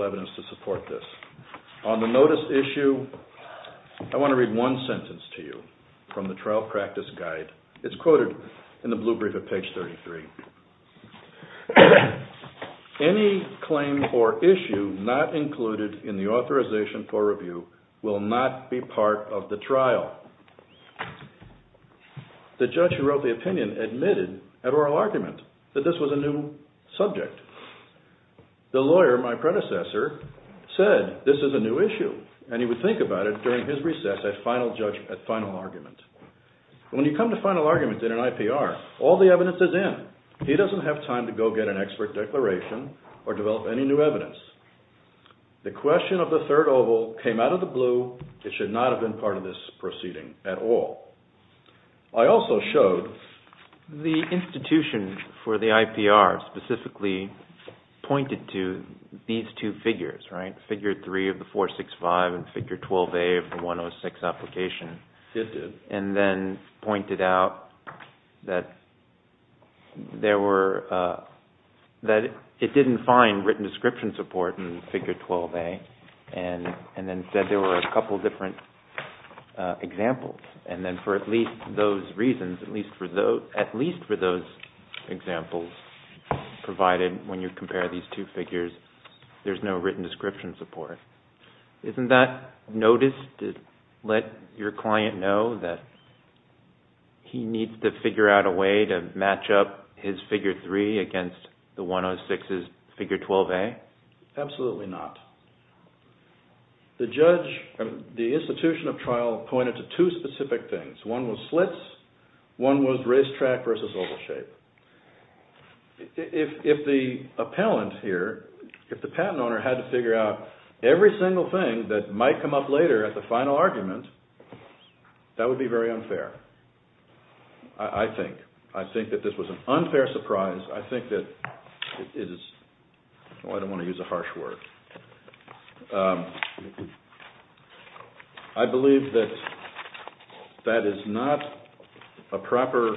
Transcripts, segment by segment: This video was recorded on September 1st, 2013 at the Munchkins' home in St. Louis, CA. This video was recorded on September 1st, 2013 at the Munchkins' home in St. Louis, CA. This video was recorded on September 1st, 2013 at the Munchkins' home in St. Louis, CA. This video was recorded on September 1st, 2013 at the Munchkins' home in St. Louis, CA. In order for this Court to affirm, it has to rule for Munchkin on all three. The first issue that I'd like to address is the third oval. The issue here is twofold. One is fair notice, and secondly, was there substantial evidence to support this? On the notice issue, I want to read one sentence to you from the trial practice guide. It's quoted in the blue brief at page 33. Any claim or issue not included in the authorization for review will not be part of the trial. The judge who wrote the opinion admitted at oral argument that this was a new subject. The lawyer, my predecessor, said this is a new issue, and he would think about it during his recess at final argument. When you come to final argument in an IPR, all the evidence is in. He doesn't have time to go get an expert declaration or develop any new evidence. The question of the third oval came out of the blue. It should not have been part of this proceeding at all. I also showed the institution for the IPR specifically pointed to these two figures, right? Figure 3 of the 465 and figure 12A of the 106 application. And then pointed out that it didn't find written description support in figure 12A, and then said there were a couple different examples. And then for at least those reasons, at least for those examples provided when you compare these two figures, there's no written description support. Isn't that notice to let your client know that he needs to figure out a way to match up his figure 3 against the 106's figure 12A? Absolutely not. The institution of trial pointed to two specific things. One was slits, one was racetrack versus oval shape. If the patent owner had to figure out every single thing that might come up later at the final argument, that would be very unfair, I think. I think that this was an unfair surprise. I think that it is – oh, I don't want to use a harsh word. I believe that that is not a proper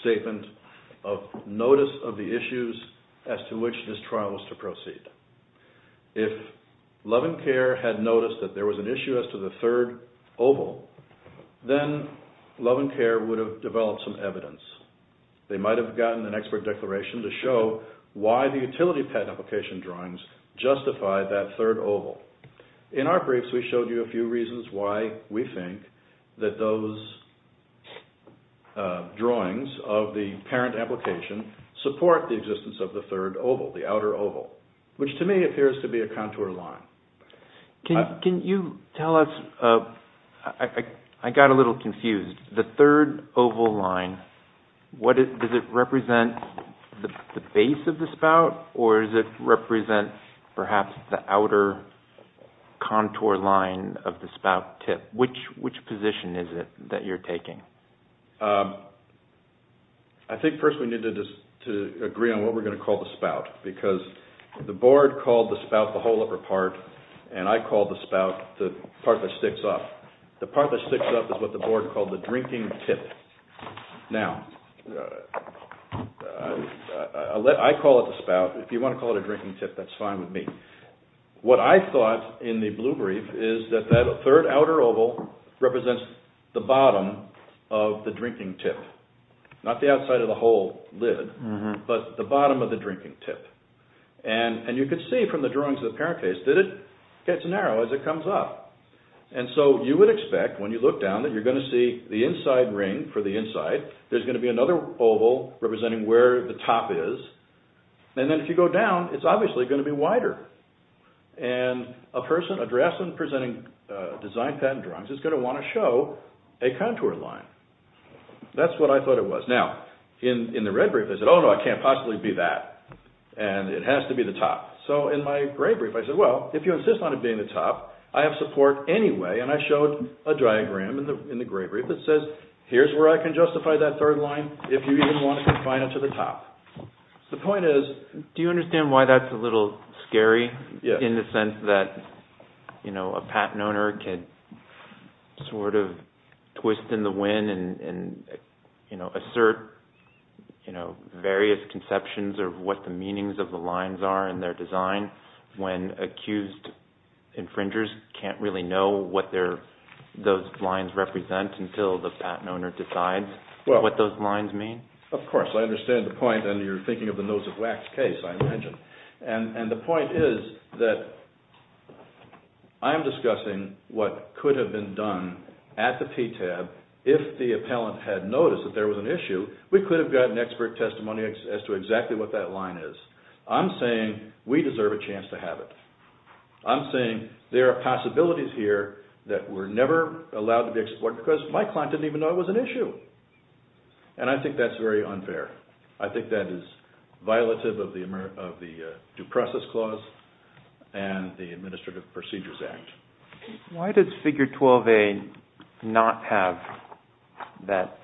statement of notice of the issues as to which this trial was to proceed. If Love and Care had noticed that there was an issue as to the third oval, then Love and Care would have developed some evidence. They might have gotten an expert declaration to show why the utility patent application drawings justified that third oval. In our briefs, we showed you a few reasons why we think that those drawings of the parent application support the existence of the third oval, the outer oval, which to me appears to be a contour line. Can you tell us – I got a little confused. The third oval line, does it represent the base of the spout, or does it represent perhaps the outer contour line of the spout tip? Which position is it that you're taking? I think first we need to agree on what we're going to call the spout, because the board called the spout the whole upper part, and I called the spout the part that sticks up. The part that sticks up is what the board called the drinking tip. Now, I call it the spout. If you want to call it a drinking tip, that's fine with me. What I thought in the blue brief is that that third outer oval represents the bottom of the drinking tip, not the outside of the whole lid, but the bottom of the drinking tip. And you can see from the drawings of the parent case that it gets narrow as it comes up. And so you would expect when you look down that you're going to see the inside ring for the inside. There's going to be another oval representing where the top is. And then if you go down, it's obviously going to be wider. And a person, a draftsman presenting design patent drawings is going to want to show a contour line. That's what I thought it was. Now, in the red brief, I said, oh, no, I can't possibly be that, and it has to be the top. So in my gray brief, I said, well, if you insist on it being the top, I have support anyway, and I showed a diagram in the gray brief that says here's where I can justify that third line if you even want to confine it to the top. The point is... Do you understand why that's a little scary in the sense that a patent owner can sort of twist in the wind and assert various conceptions of what the meanings of the lines are in their design when accused infringers can't really know what those lines represent until the patent owner decides what those lines mean? Of course, I understand the point, and you're thinking of the nose of wax case, I imagine. And the point is that I am discussing what could have been done at the PTAB if the appellant had noticed that there was an issue. We could have gotten expert testimony as to exactly what that line is. I'm saying we deserve a chance to have it. I'm saying there are possibilities here that were never allowed to be explored because my client didn't even know it was an issue. And I think that's very unfair. I think that is violative of the Due Process Clause and the Administrative Procedures Act. Why does Figure 12a not have that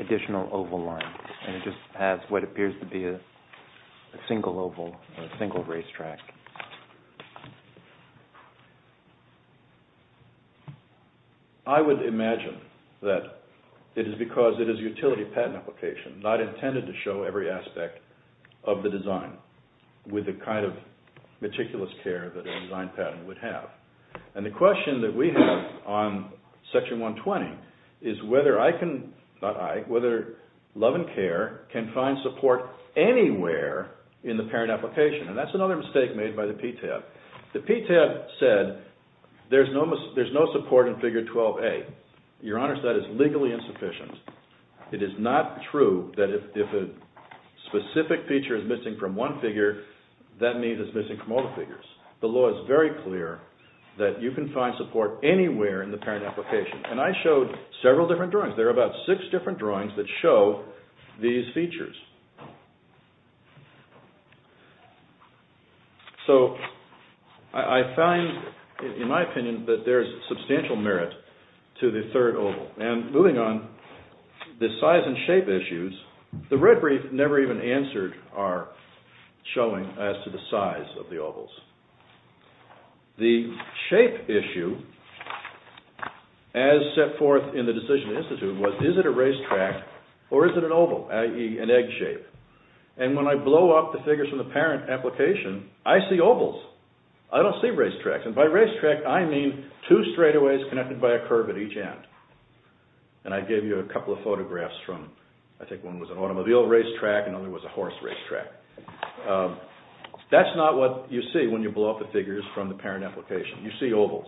additional oval line? It just has what appears to be a single oval or a single racetrack. I would imagine that it is because it is a utility patent application, not intended to show every aspect of the design with the kind of meticulous care that a design patent would have. And the question that we have on Section 120 is whether I can, not I, whether Love and Care can find support anywhere in the parent application. And that's another mistake made by the PTAB. The PTAB said there's no support in Figure 12a. Your Honor, that is legally insufficient. It is not true that if a specific feature is missing from one figure, that means it's missing from all the figures. The law is very clear that you can find support anywhere in the parent application. And I showed several different drawings. There are about six different drawings that show these features. So I find, in my opinion, that there is substantial merit to the third oval. And moving on, the size and shape issues, the red brief never even answered our showing as to the size of the ovals. The shape issue, as set forth in the Decision Institute, was is it a racetrack or is it an oval, i.e. an egg shape. And when I blow up the figures from the parent application, I see ovals. I don't see racetracks. And by racetrack, I mean two straightaways connected by a curve at each end. And I gave you a couple of photographs from, I think one was an automobile racetrack and the other was a horse racetrack. That's not what you see when you blow up the figures from the parent application. You see ovals.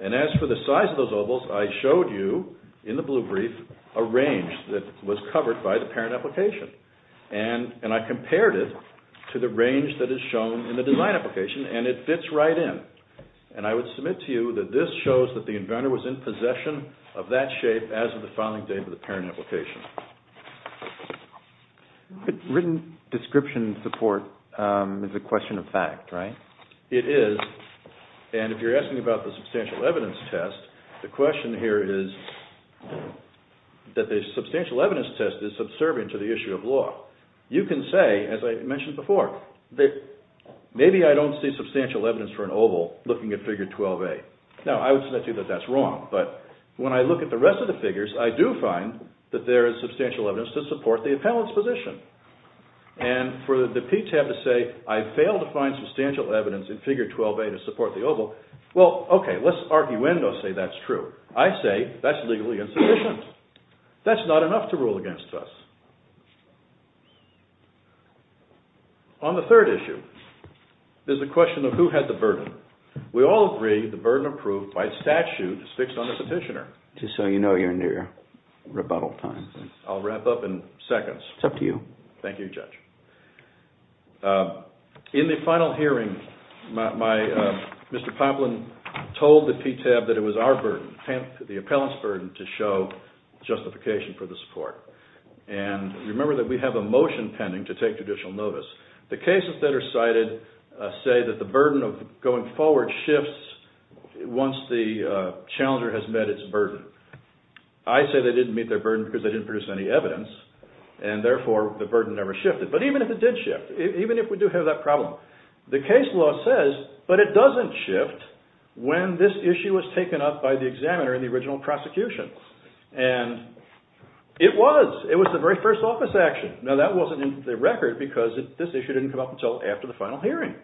And as for the size of those ovals, I showed you in the blue brief a range that was covered by the parent application. And I compared it to the range that is shown in the design application and it fits right in. And I would submit to you that this shows that the inventor was in possession of that shape as of the filing date of the parent application. Written description support is a question of fact, right? It is. And if you're asking about the substantial evidence test, the question here is that the substantial evidence test is subservient to the issue of law. You can say, as I mentioned before, that maybe I don't see substantial evidence for an oval looking at figure 12A. Now, I would submit to you that that's wrong. But when I look at the rest of the figures, I do find that there is substantial evidence to support the appellant's position. And for the PTAB to say, I failed to find substantial evidence in figure 12A to support the oval, well, okay, let's arguendo say that's true. I say that's legally insufficient. That's not enough to rule against us. On the third issue is the question of who had the burden. We all agree the burden of proof by statute is fixed on the petitioner. Just so you know, you're near rebuttal time. I'll wrap up in seconds. It's up to you. Thank you, Judge. In the final hearing, Mr. Poplin told the PTAB that it was our burden, the appellant's burden, to show justification for the support. And remember that we have a motion pending to take judicial notice. The cases that are cited say that the burden of going forward shifts once the challenger has met its burden. I say they didn't meet their burden because they didn't produce any evidence, and therefore the burden never shifted. But even if it did shift, even if we do have that problem, the case law says, but it doesn't shift when this issue was taken up by the examiner in the original prosecution. And it was. It was the very first office action. Now that wasn't in the record because this issue didn't come up until after the final hearing.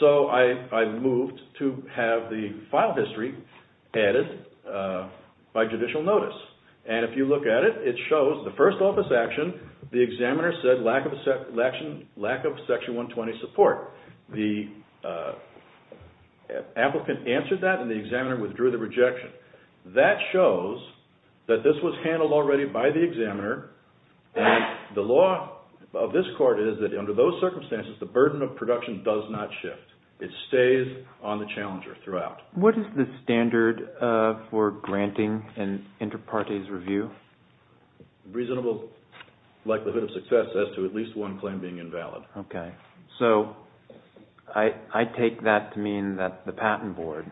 So I moved to have the file history added by judicial notice. And if you look at it, it shows the first office action, the examiner said lack of section 120 support. The applicant answered that, and the examiner withdrew the rejection. That shows that this was handled already by the examiner, and the law of this court is that under those circumstances, the burden of production does not shift. It stays on the challenger throughout. What is the standard for granting an inter partes review? Reasonable likelihood of success as to at least one claim being invalid. Okay. So I take that to mean that the patent board,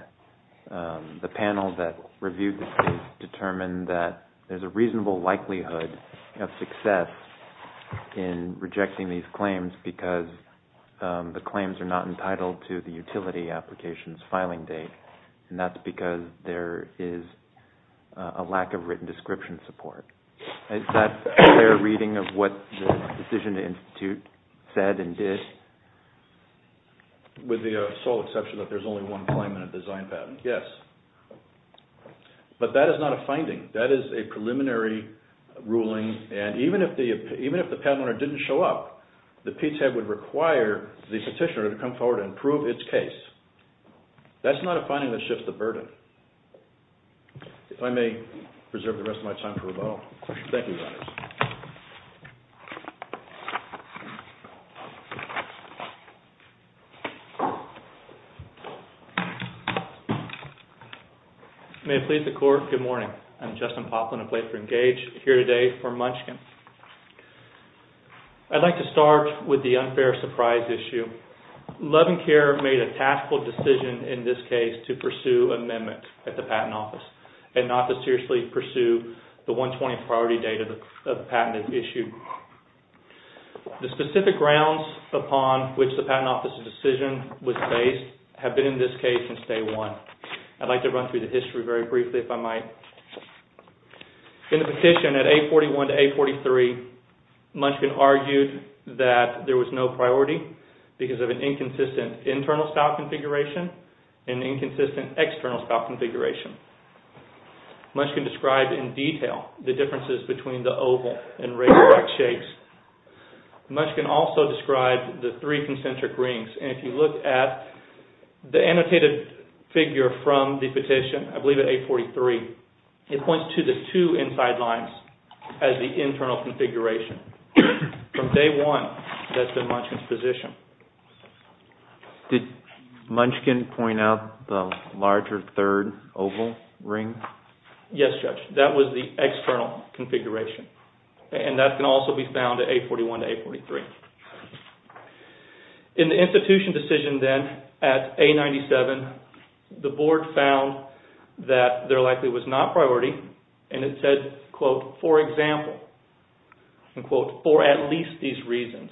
the panel that reviewed the case, determined that there's a reasonable likelihood of success in rejecting these claims because the claims are not entitled to the utility application's filing date. And that's because there is a lack of written description support. Is that a fair reading of what the Decision Institute said and did? With the sole exception that there's only one claim in a design patent, yes. But that is not a finding. That is a preliminary ruling. And even if the patent owner didn't show up, the PTAB would require the petitioner to come forward and prove its case. That's not a finding that shifts the burden. If I may preserve the rest of my time for rebuttal. Thank you, Your Honors. May it please the Court, good morning. I'm Justin Poplin. I play for Engage here today for Munchkin. I'd like to start with the unfair surprise issue. Love and Care made a taskful decision in this case to pursue amendments at the Patent Office and not to seriously pursue the 120 priority date of the patent issue. The specific grounds upon which the Patent Office's decision was based have been in this case since day one. I'd like to run through the history very briefly if I might. In the petition at 841 to 843, Munchkin argued that there was no priority because of an inconsistent internal style configuration and inconsistent external style configuration. Munchkin described in detail the differences between the oval and regular-like shapes. Munchkin also described the three concentric rings. If you look at the annotated figure from the petition, I believe at 843, it points to the two inside lines as the internal configuration. From day one, that's been Munchkin's position. Did Munchkin point out the larger third oval ring? Yes, Judge. That was the external configuration. That can also be found at 841 to 843. In the institution decision then at 897, the board found that there likely was not priority and it said, quote, for example, unquote, for at least these reasons.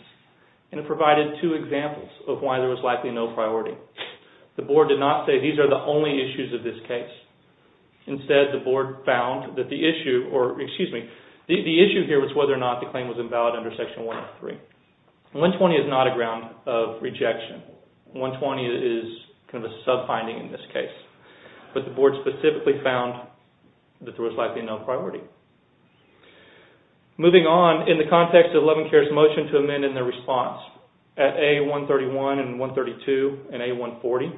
And it provided two examples of why there was likely no priority. The board did not say these are the only issues of this case. Instead, the board found that the issue, or excuse me, the issue here was whether or not the claim was invalid under Section 103. 120 is not a ground of rejection. 120 is kind of a sub-finding in this case. But the board specifically found that there was likely no priority. Moving on, in the context of Levencare's motion to amend in their response, at A131 and 132 and A140,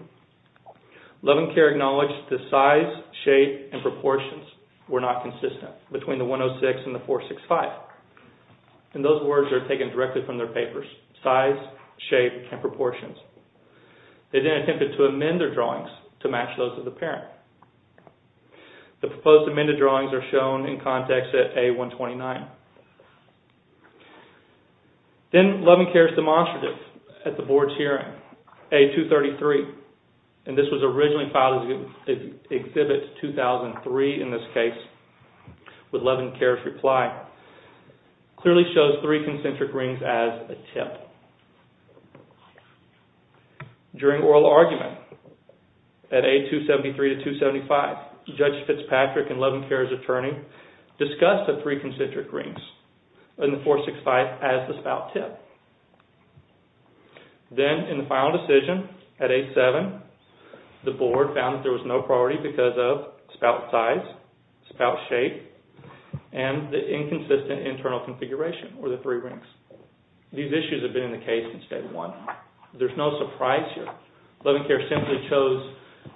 Levencare acknowledged the size, shape, and proportions were not consistent between the 106 and the 465. And those words are taken directly from their papers. Size, shape, and proportions. They then attempted to amend their drawings to match those of the parent. The proposed amended drawings are shown in context at A129. Then Levencare's demonstrative at the board's hearing, A233, and this was originally filed as Exhibit 2003 in this case, with Levencare's reply, clearly shows three concentric rings as a tip. During oral argument at A273 to 275, Judge Fitzpatrick and Levencare's attorney discussed the three concentric rings and the 465 as the spout tip. Then in the final decision at A7, the board found that there was no priority because of spout size, spout shape, and the inconsistent internal configuration, or the three rings. These issues have been in the case since day one. There's no surprise here. Levencare simply chose...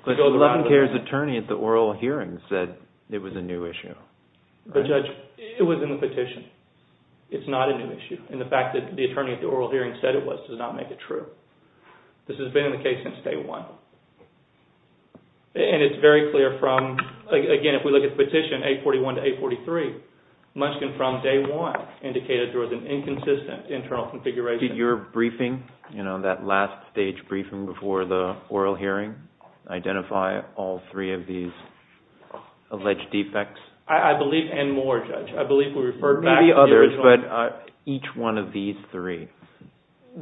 But Levencare's attorney at the oral hearing said it was a new issue. But Judge, it was in the petition. It's not a new issue. And the fact that the attorney at the oral hearing said it was does not make it true. This has been in the case since day one. And it's very clear from... Again, if we look at the petition, A41 to A43, much confirmed day one indicated there was an inconsistent internal configuration. Did your briefing, that last stage briefing before the oral hearing, identify all three of these alleged defects? I believe... And more, Judge. I believe we referred back... Maybe others, but each one of these three.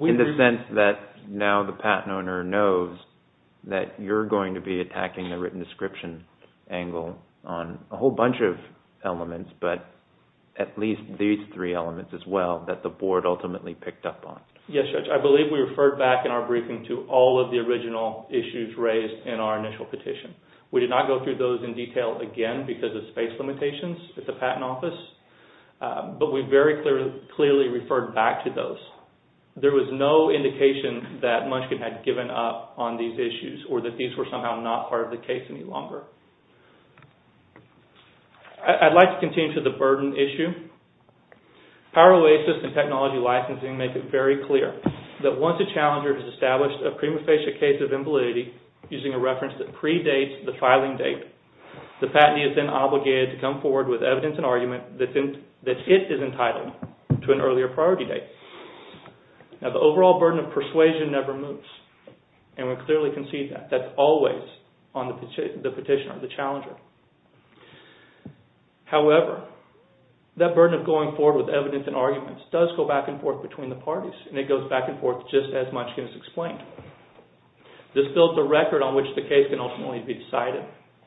In the sense that now the patent owner knows that you're going to be attacking the written description angle on a whole bunch of elements, but at least these three elements as well that the board ultimately picked up on. Yes, Judge. I believe we referred back in our briefing to all of the original issues raised in our initial petition. We did not go through those in detail again because of space limitations at the patent office. But we very clearly referred back to those. There was no indication that Munchkin had given up on these issues or that these were somehow not part of the case any longer. I'd like to continue to the burden issue. Power Oasis and technology licensing make it very clear that once a challenger has established a prima facie case of invalidity using a reference that predates the filing date, the patentee is then obligated to come forward with evidence and argument that it is entitled to an earlier priority date. Now, the overall burden of persuasion never moves, and we clearly can see that. That's always on the petitioner, the challenger. However, that burden of going forward with evidence and arguments does go back and forth between the parties, and it goes back and forth just as Munchkin has explained. This builds a record on which the case can ultimately be decided.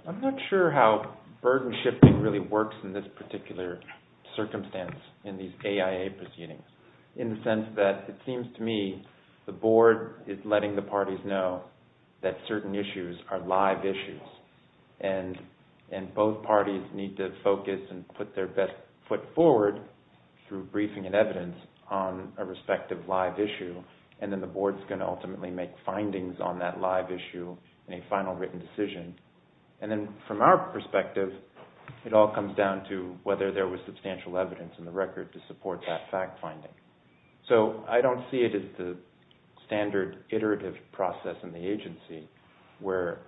I'm not sure how burden shifting really works in this particular circumstance in these AIA proceedings in the sense that it seems to me the board is letting the parties know that certain issues are live issues, and both parties need to focus and put their best foot forward through briefing and evidence on a respective live issue, and then the board is going to ultimately make findings on that live issue in a final written decision. And then from our perspective, it all comes down to whether there was substantial evidence in the record to support that fact finding. So I don't see it as the standard iterative process in the agency where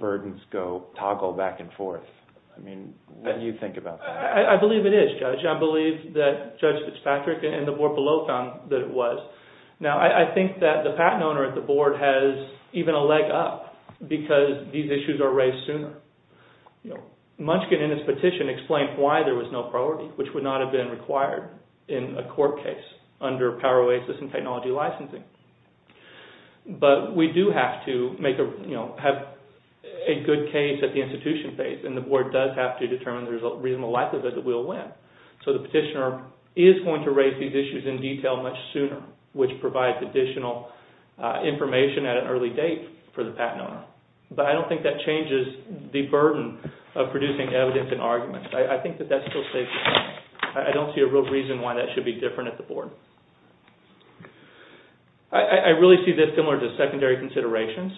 burdens go toggle back and forth. I mean, what do you think about that? I believe it is, Judge. I believe that Judge Fitzpatrick and the board below found that it was. Now, I think that the patent owner at the board has even a leg up because these issues are raised sooner. Munchkin in his petition explained why there was no priority, which would not have been required in a court case under Power Oasis and technology licensing. But we do have to have a good case at the institution phase, and the board does have to determine the reasonable likelihood that we'll win. So the petitioner is going to raise these issues in detail much sooner, which provides additional information at an early date for the patent owner. But I don't think that changes the burden of producing evidence and arguments. I think that that's still safe to say. I don't see a real reason why that should be different at the board. I really see this similar to secondary considerations,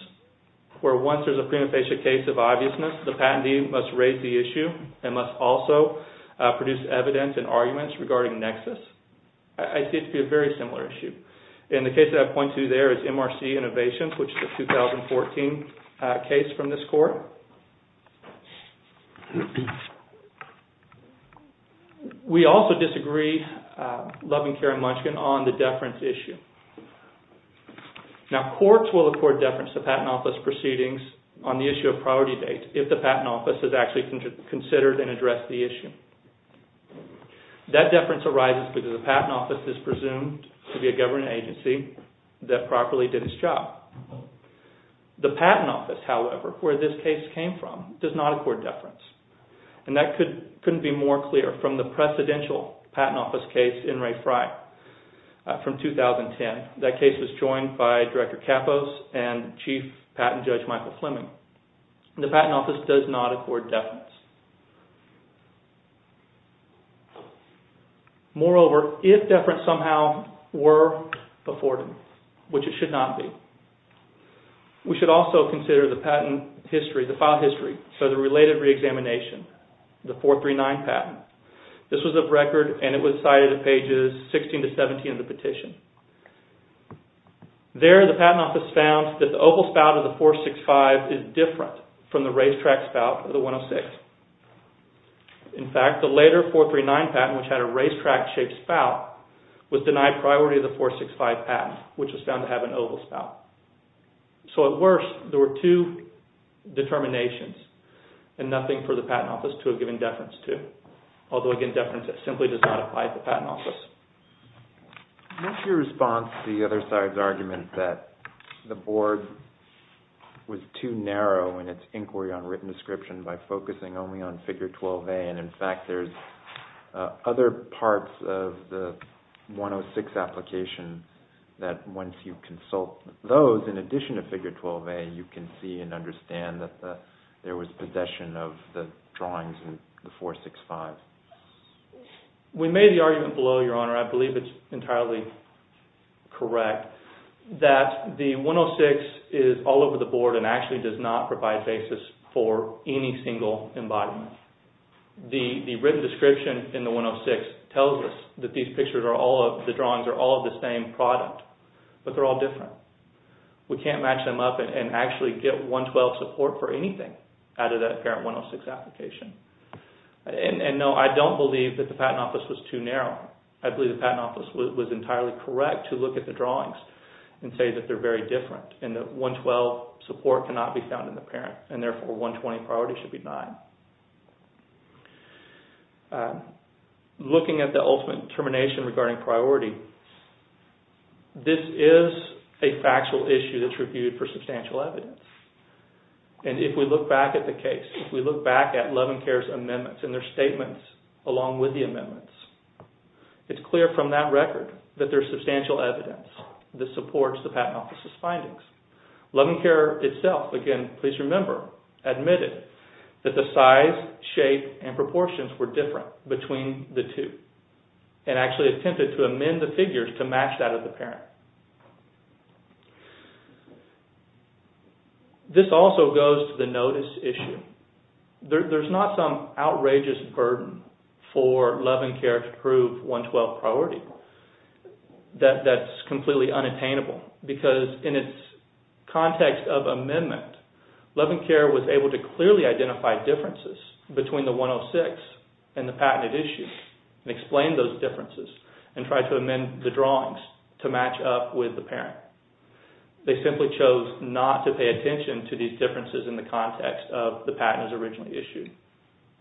where once there's a prima facie case of obviousness, the patentee must raise the issue and must also produce evidence and arguments regarding nexus. I see it to be a very similar issue. And the case that I point to there is MRC Innovations, which is a 2014 case from this court. We also disagree, Love and Care and Munchkin, on the deference issue. Now, courts will accord deference to patent office proceedings on the issue of priority date if the patent office has actually considered and addressed the issue. That deference arises because the patent office is presumed to be a government agency that properly did its job. The patent office, however, where this case came from, does not accord deference. And that couldn't be more clear from the presidential patent office case, in Ray Fry from 2010. That case was joined by Director Kapos and Chief Patent Judge Michael Fleming. The patent office does not accord deference. Moreover, if deference somehow were afforded, which it should not be, we should also consider the patent history, the file history, so the related reexamination, the 439 patent. This was a record and it was cited in pages 16 to 17 of the petition. There, the patent office found that the oval spout of the 465 is different from the racetrack spout of the 106. In fact, the later 439 patent, which had a racetrack-shaped spout, was denied priority of the 465 patent, which was found to have an oval spout. So at worst, there were two determinations and nothing for the patent office to have given deference to. Although, again, deference simply does not apply to the patent office. What's your response to the other side's argument that the board was too narrow in its inquiry on written description by focusing only on Figure 12A and, in fact, there's other parts of the 106 application that once you consult those, in addition to Figure 12A, you can see and understand that there was possession of the drawings in the 465? We made the argument below, Your Honor, I believe it's entirely correct, that the 106 is all over the board and actually does not provide basis for any single embodiment. The written description in the 106 tells us that these pictures are all of, the drawings are all of the same product, but they're all different. We can't match them up and actually get 112 support for anything out of that parent 106 application. And, no, I don't believe that the patent office was too narrow. I believe the patent office was entirely correct to look at the drawings and say that they're very different and that 112 support cannot be found in the parent and, therefore, 120 priority should be denied. Looking at the ultimate determination regarding priority, this is a factual issue that's reviewed for substantial evidence. And if we look back at the case, if we look back at Love and Care's amendments and their statements along with the amendments, it's clear from that record that there's substantial evidence that supports the patent office's findings. Love and Care itself, again, please remember, admitted that the size, shape, and proportions were different between the two and actually attempted to amend the figures to match that of the parent. This also goes to the notice issue. There's not some outrageous burden for Love and Care to prove 112 priority that's completely unattainable because in its context of amendment, Love and Care was able to clearly identify differences between the 106 and the patented issue and explain those differences and try to amend the drawings to match up with the parent. They simply chose not to pay attention to these differences in the context of the patent as originally issued.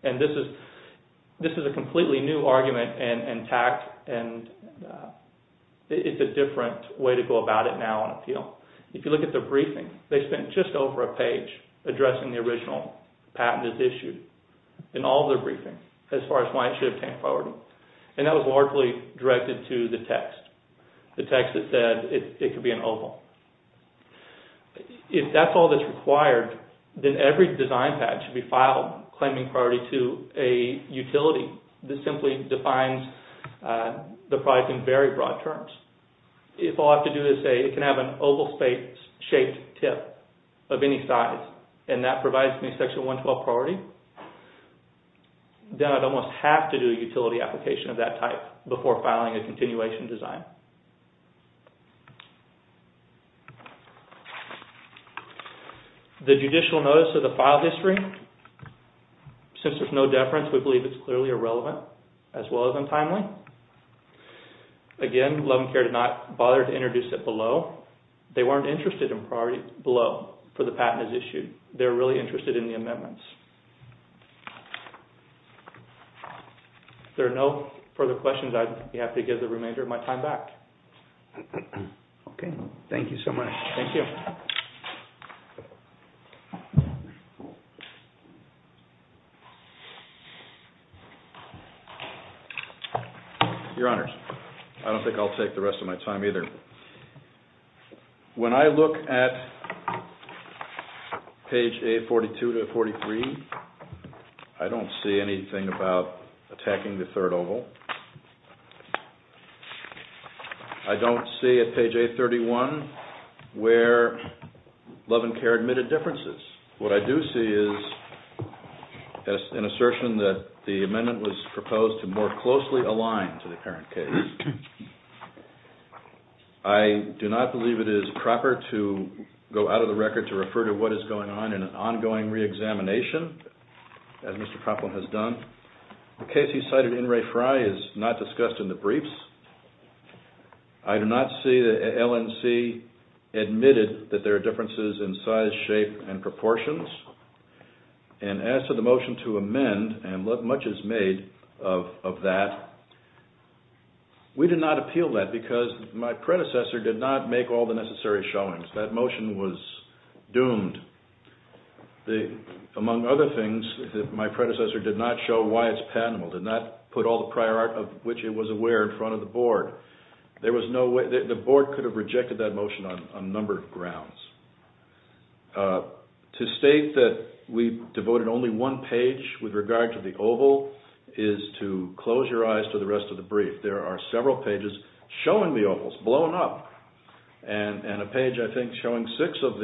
And this is a completely new argument and tact and it's a different way to go about it now on appeal. If you look at the briefing, they spent just over a page addressing the original patent as issued in all their briefings as far as why it should have 10 priority. And that was largely directed to the text. The text that said it could be an oval. If that's all that's required, then every design patch should be filed claiming priority to a utility. This simply defines the product in very broad terms. If all I have to do is say it can have an oval-shaped tip of any size and that provides me section 112 priority, then I'd almost have to do a utility application of that type before filing a continuation design. The judicial notice of the file history, since there's no deference, we believe it's clearly irrelevant as well as untimely. Again, Love & Care did not bother to introduce it below. They weren't interested in priorities below for the patent as issued. They're really interested in the amendments. If there are no further questions, I'd be happy to give the remainder of my time back. Okay. Thank you so much. Thank you. Your Honors, I don't think I'll take the rest of my time either. When I look at page A42-43, I don't see anything about attacking the third oval. I don't see at page A31 where Love & Care admitted differences. What I do see is an assertion that the amendment was proposed to more closely align to the apparent case. I do not believe it is proper to go out of the record to refer to what is going on in an ongoing re-examination, as Mr. Propplin has done. The case he cited in Ray Fry is not discussed in the briefs. I do not see that LNC admitted that there are differences in size, shape, and proportions. As to the motion to amend and what much is made of that, we did not appeal that because my predecessor did not make all the necessary showings. That motion was doomed. Among other things, my predecessor did not show why it's patentable, did not put all the prior art of which it was aware in front of the Board. The Board could have rejected that motion on a number of grounds. To state that we devoted only one page with regard to the oval is to close your eyes to the rest of the brief. There are several pages showing the ovals, blown up, and a page, I think, showing six of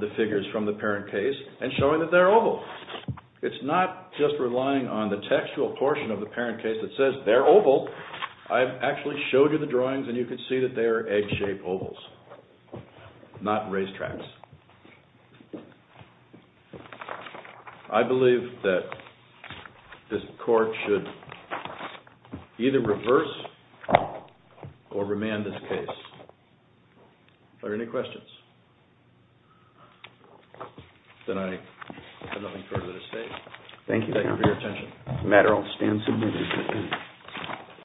the figures from the apparent case and showing that they're oval. It's not just relying on the textual portion of the apparent case that says they're oval. I've actually showed you the drawings and you can see that they are egg-shaped ovals, not racetracks. I believe that this Court should either reverse or remand this case. Are there any questions? Then I have nothing further to say. Thank you for your attention.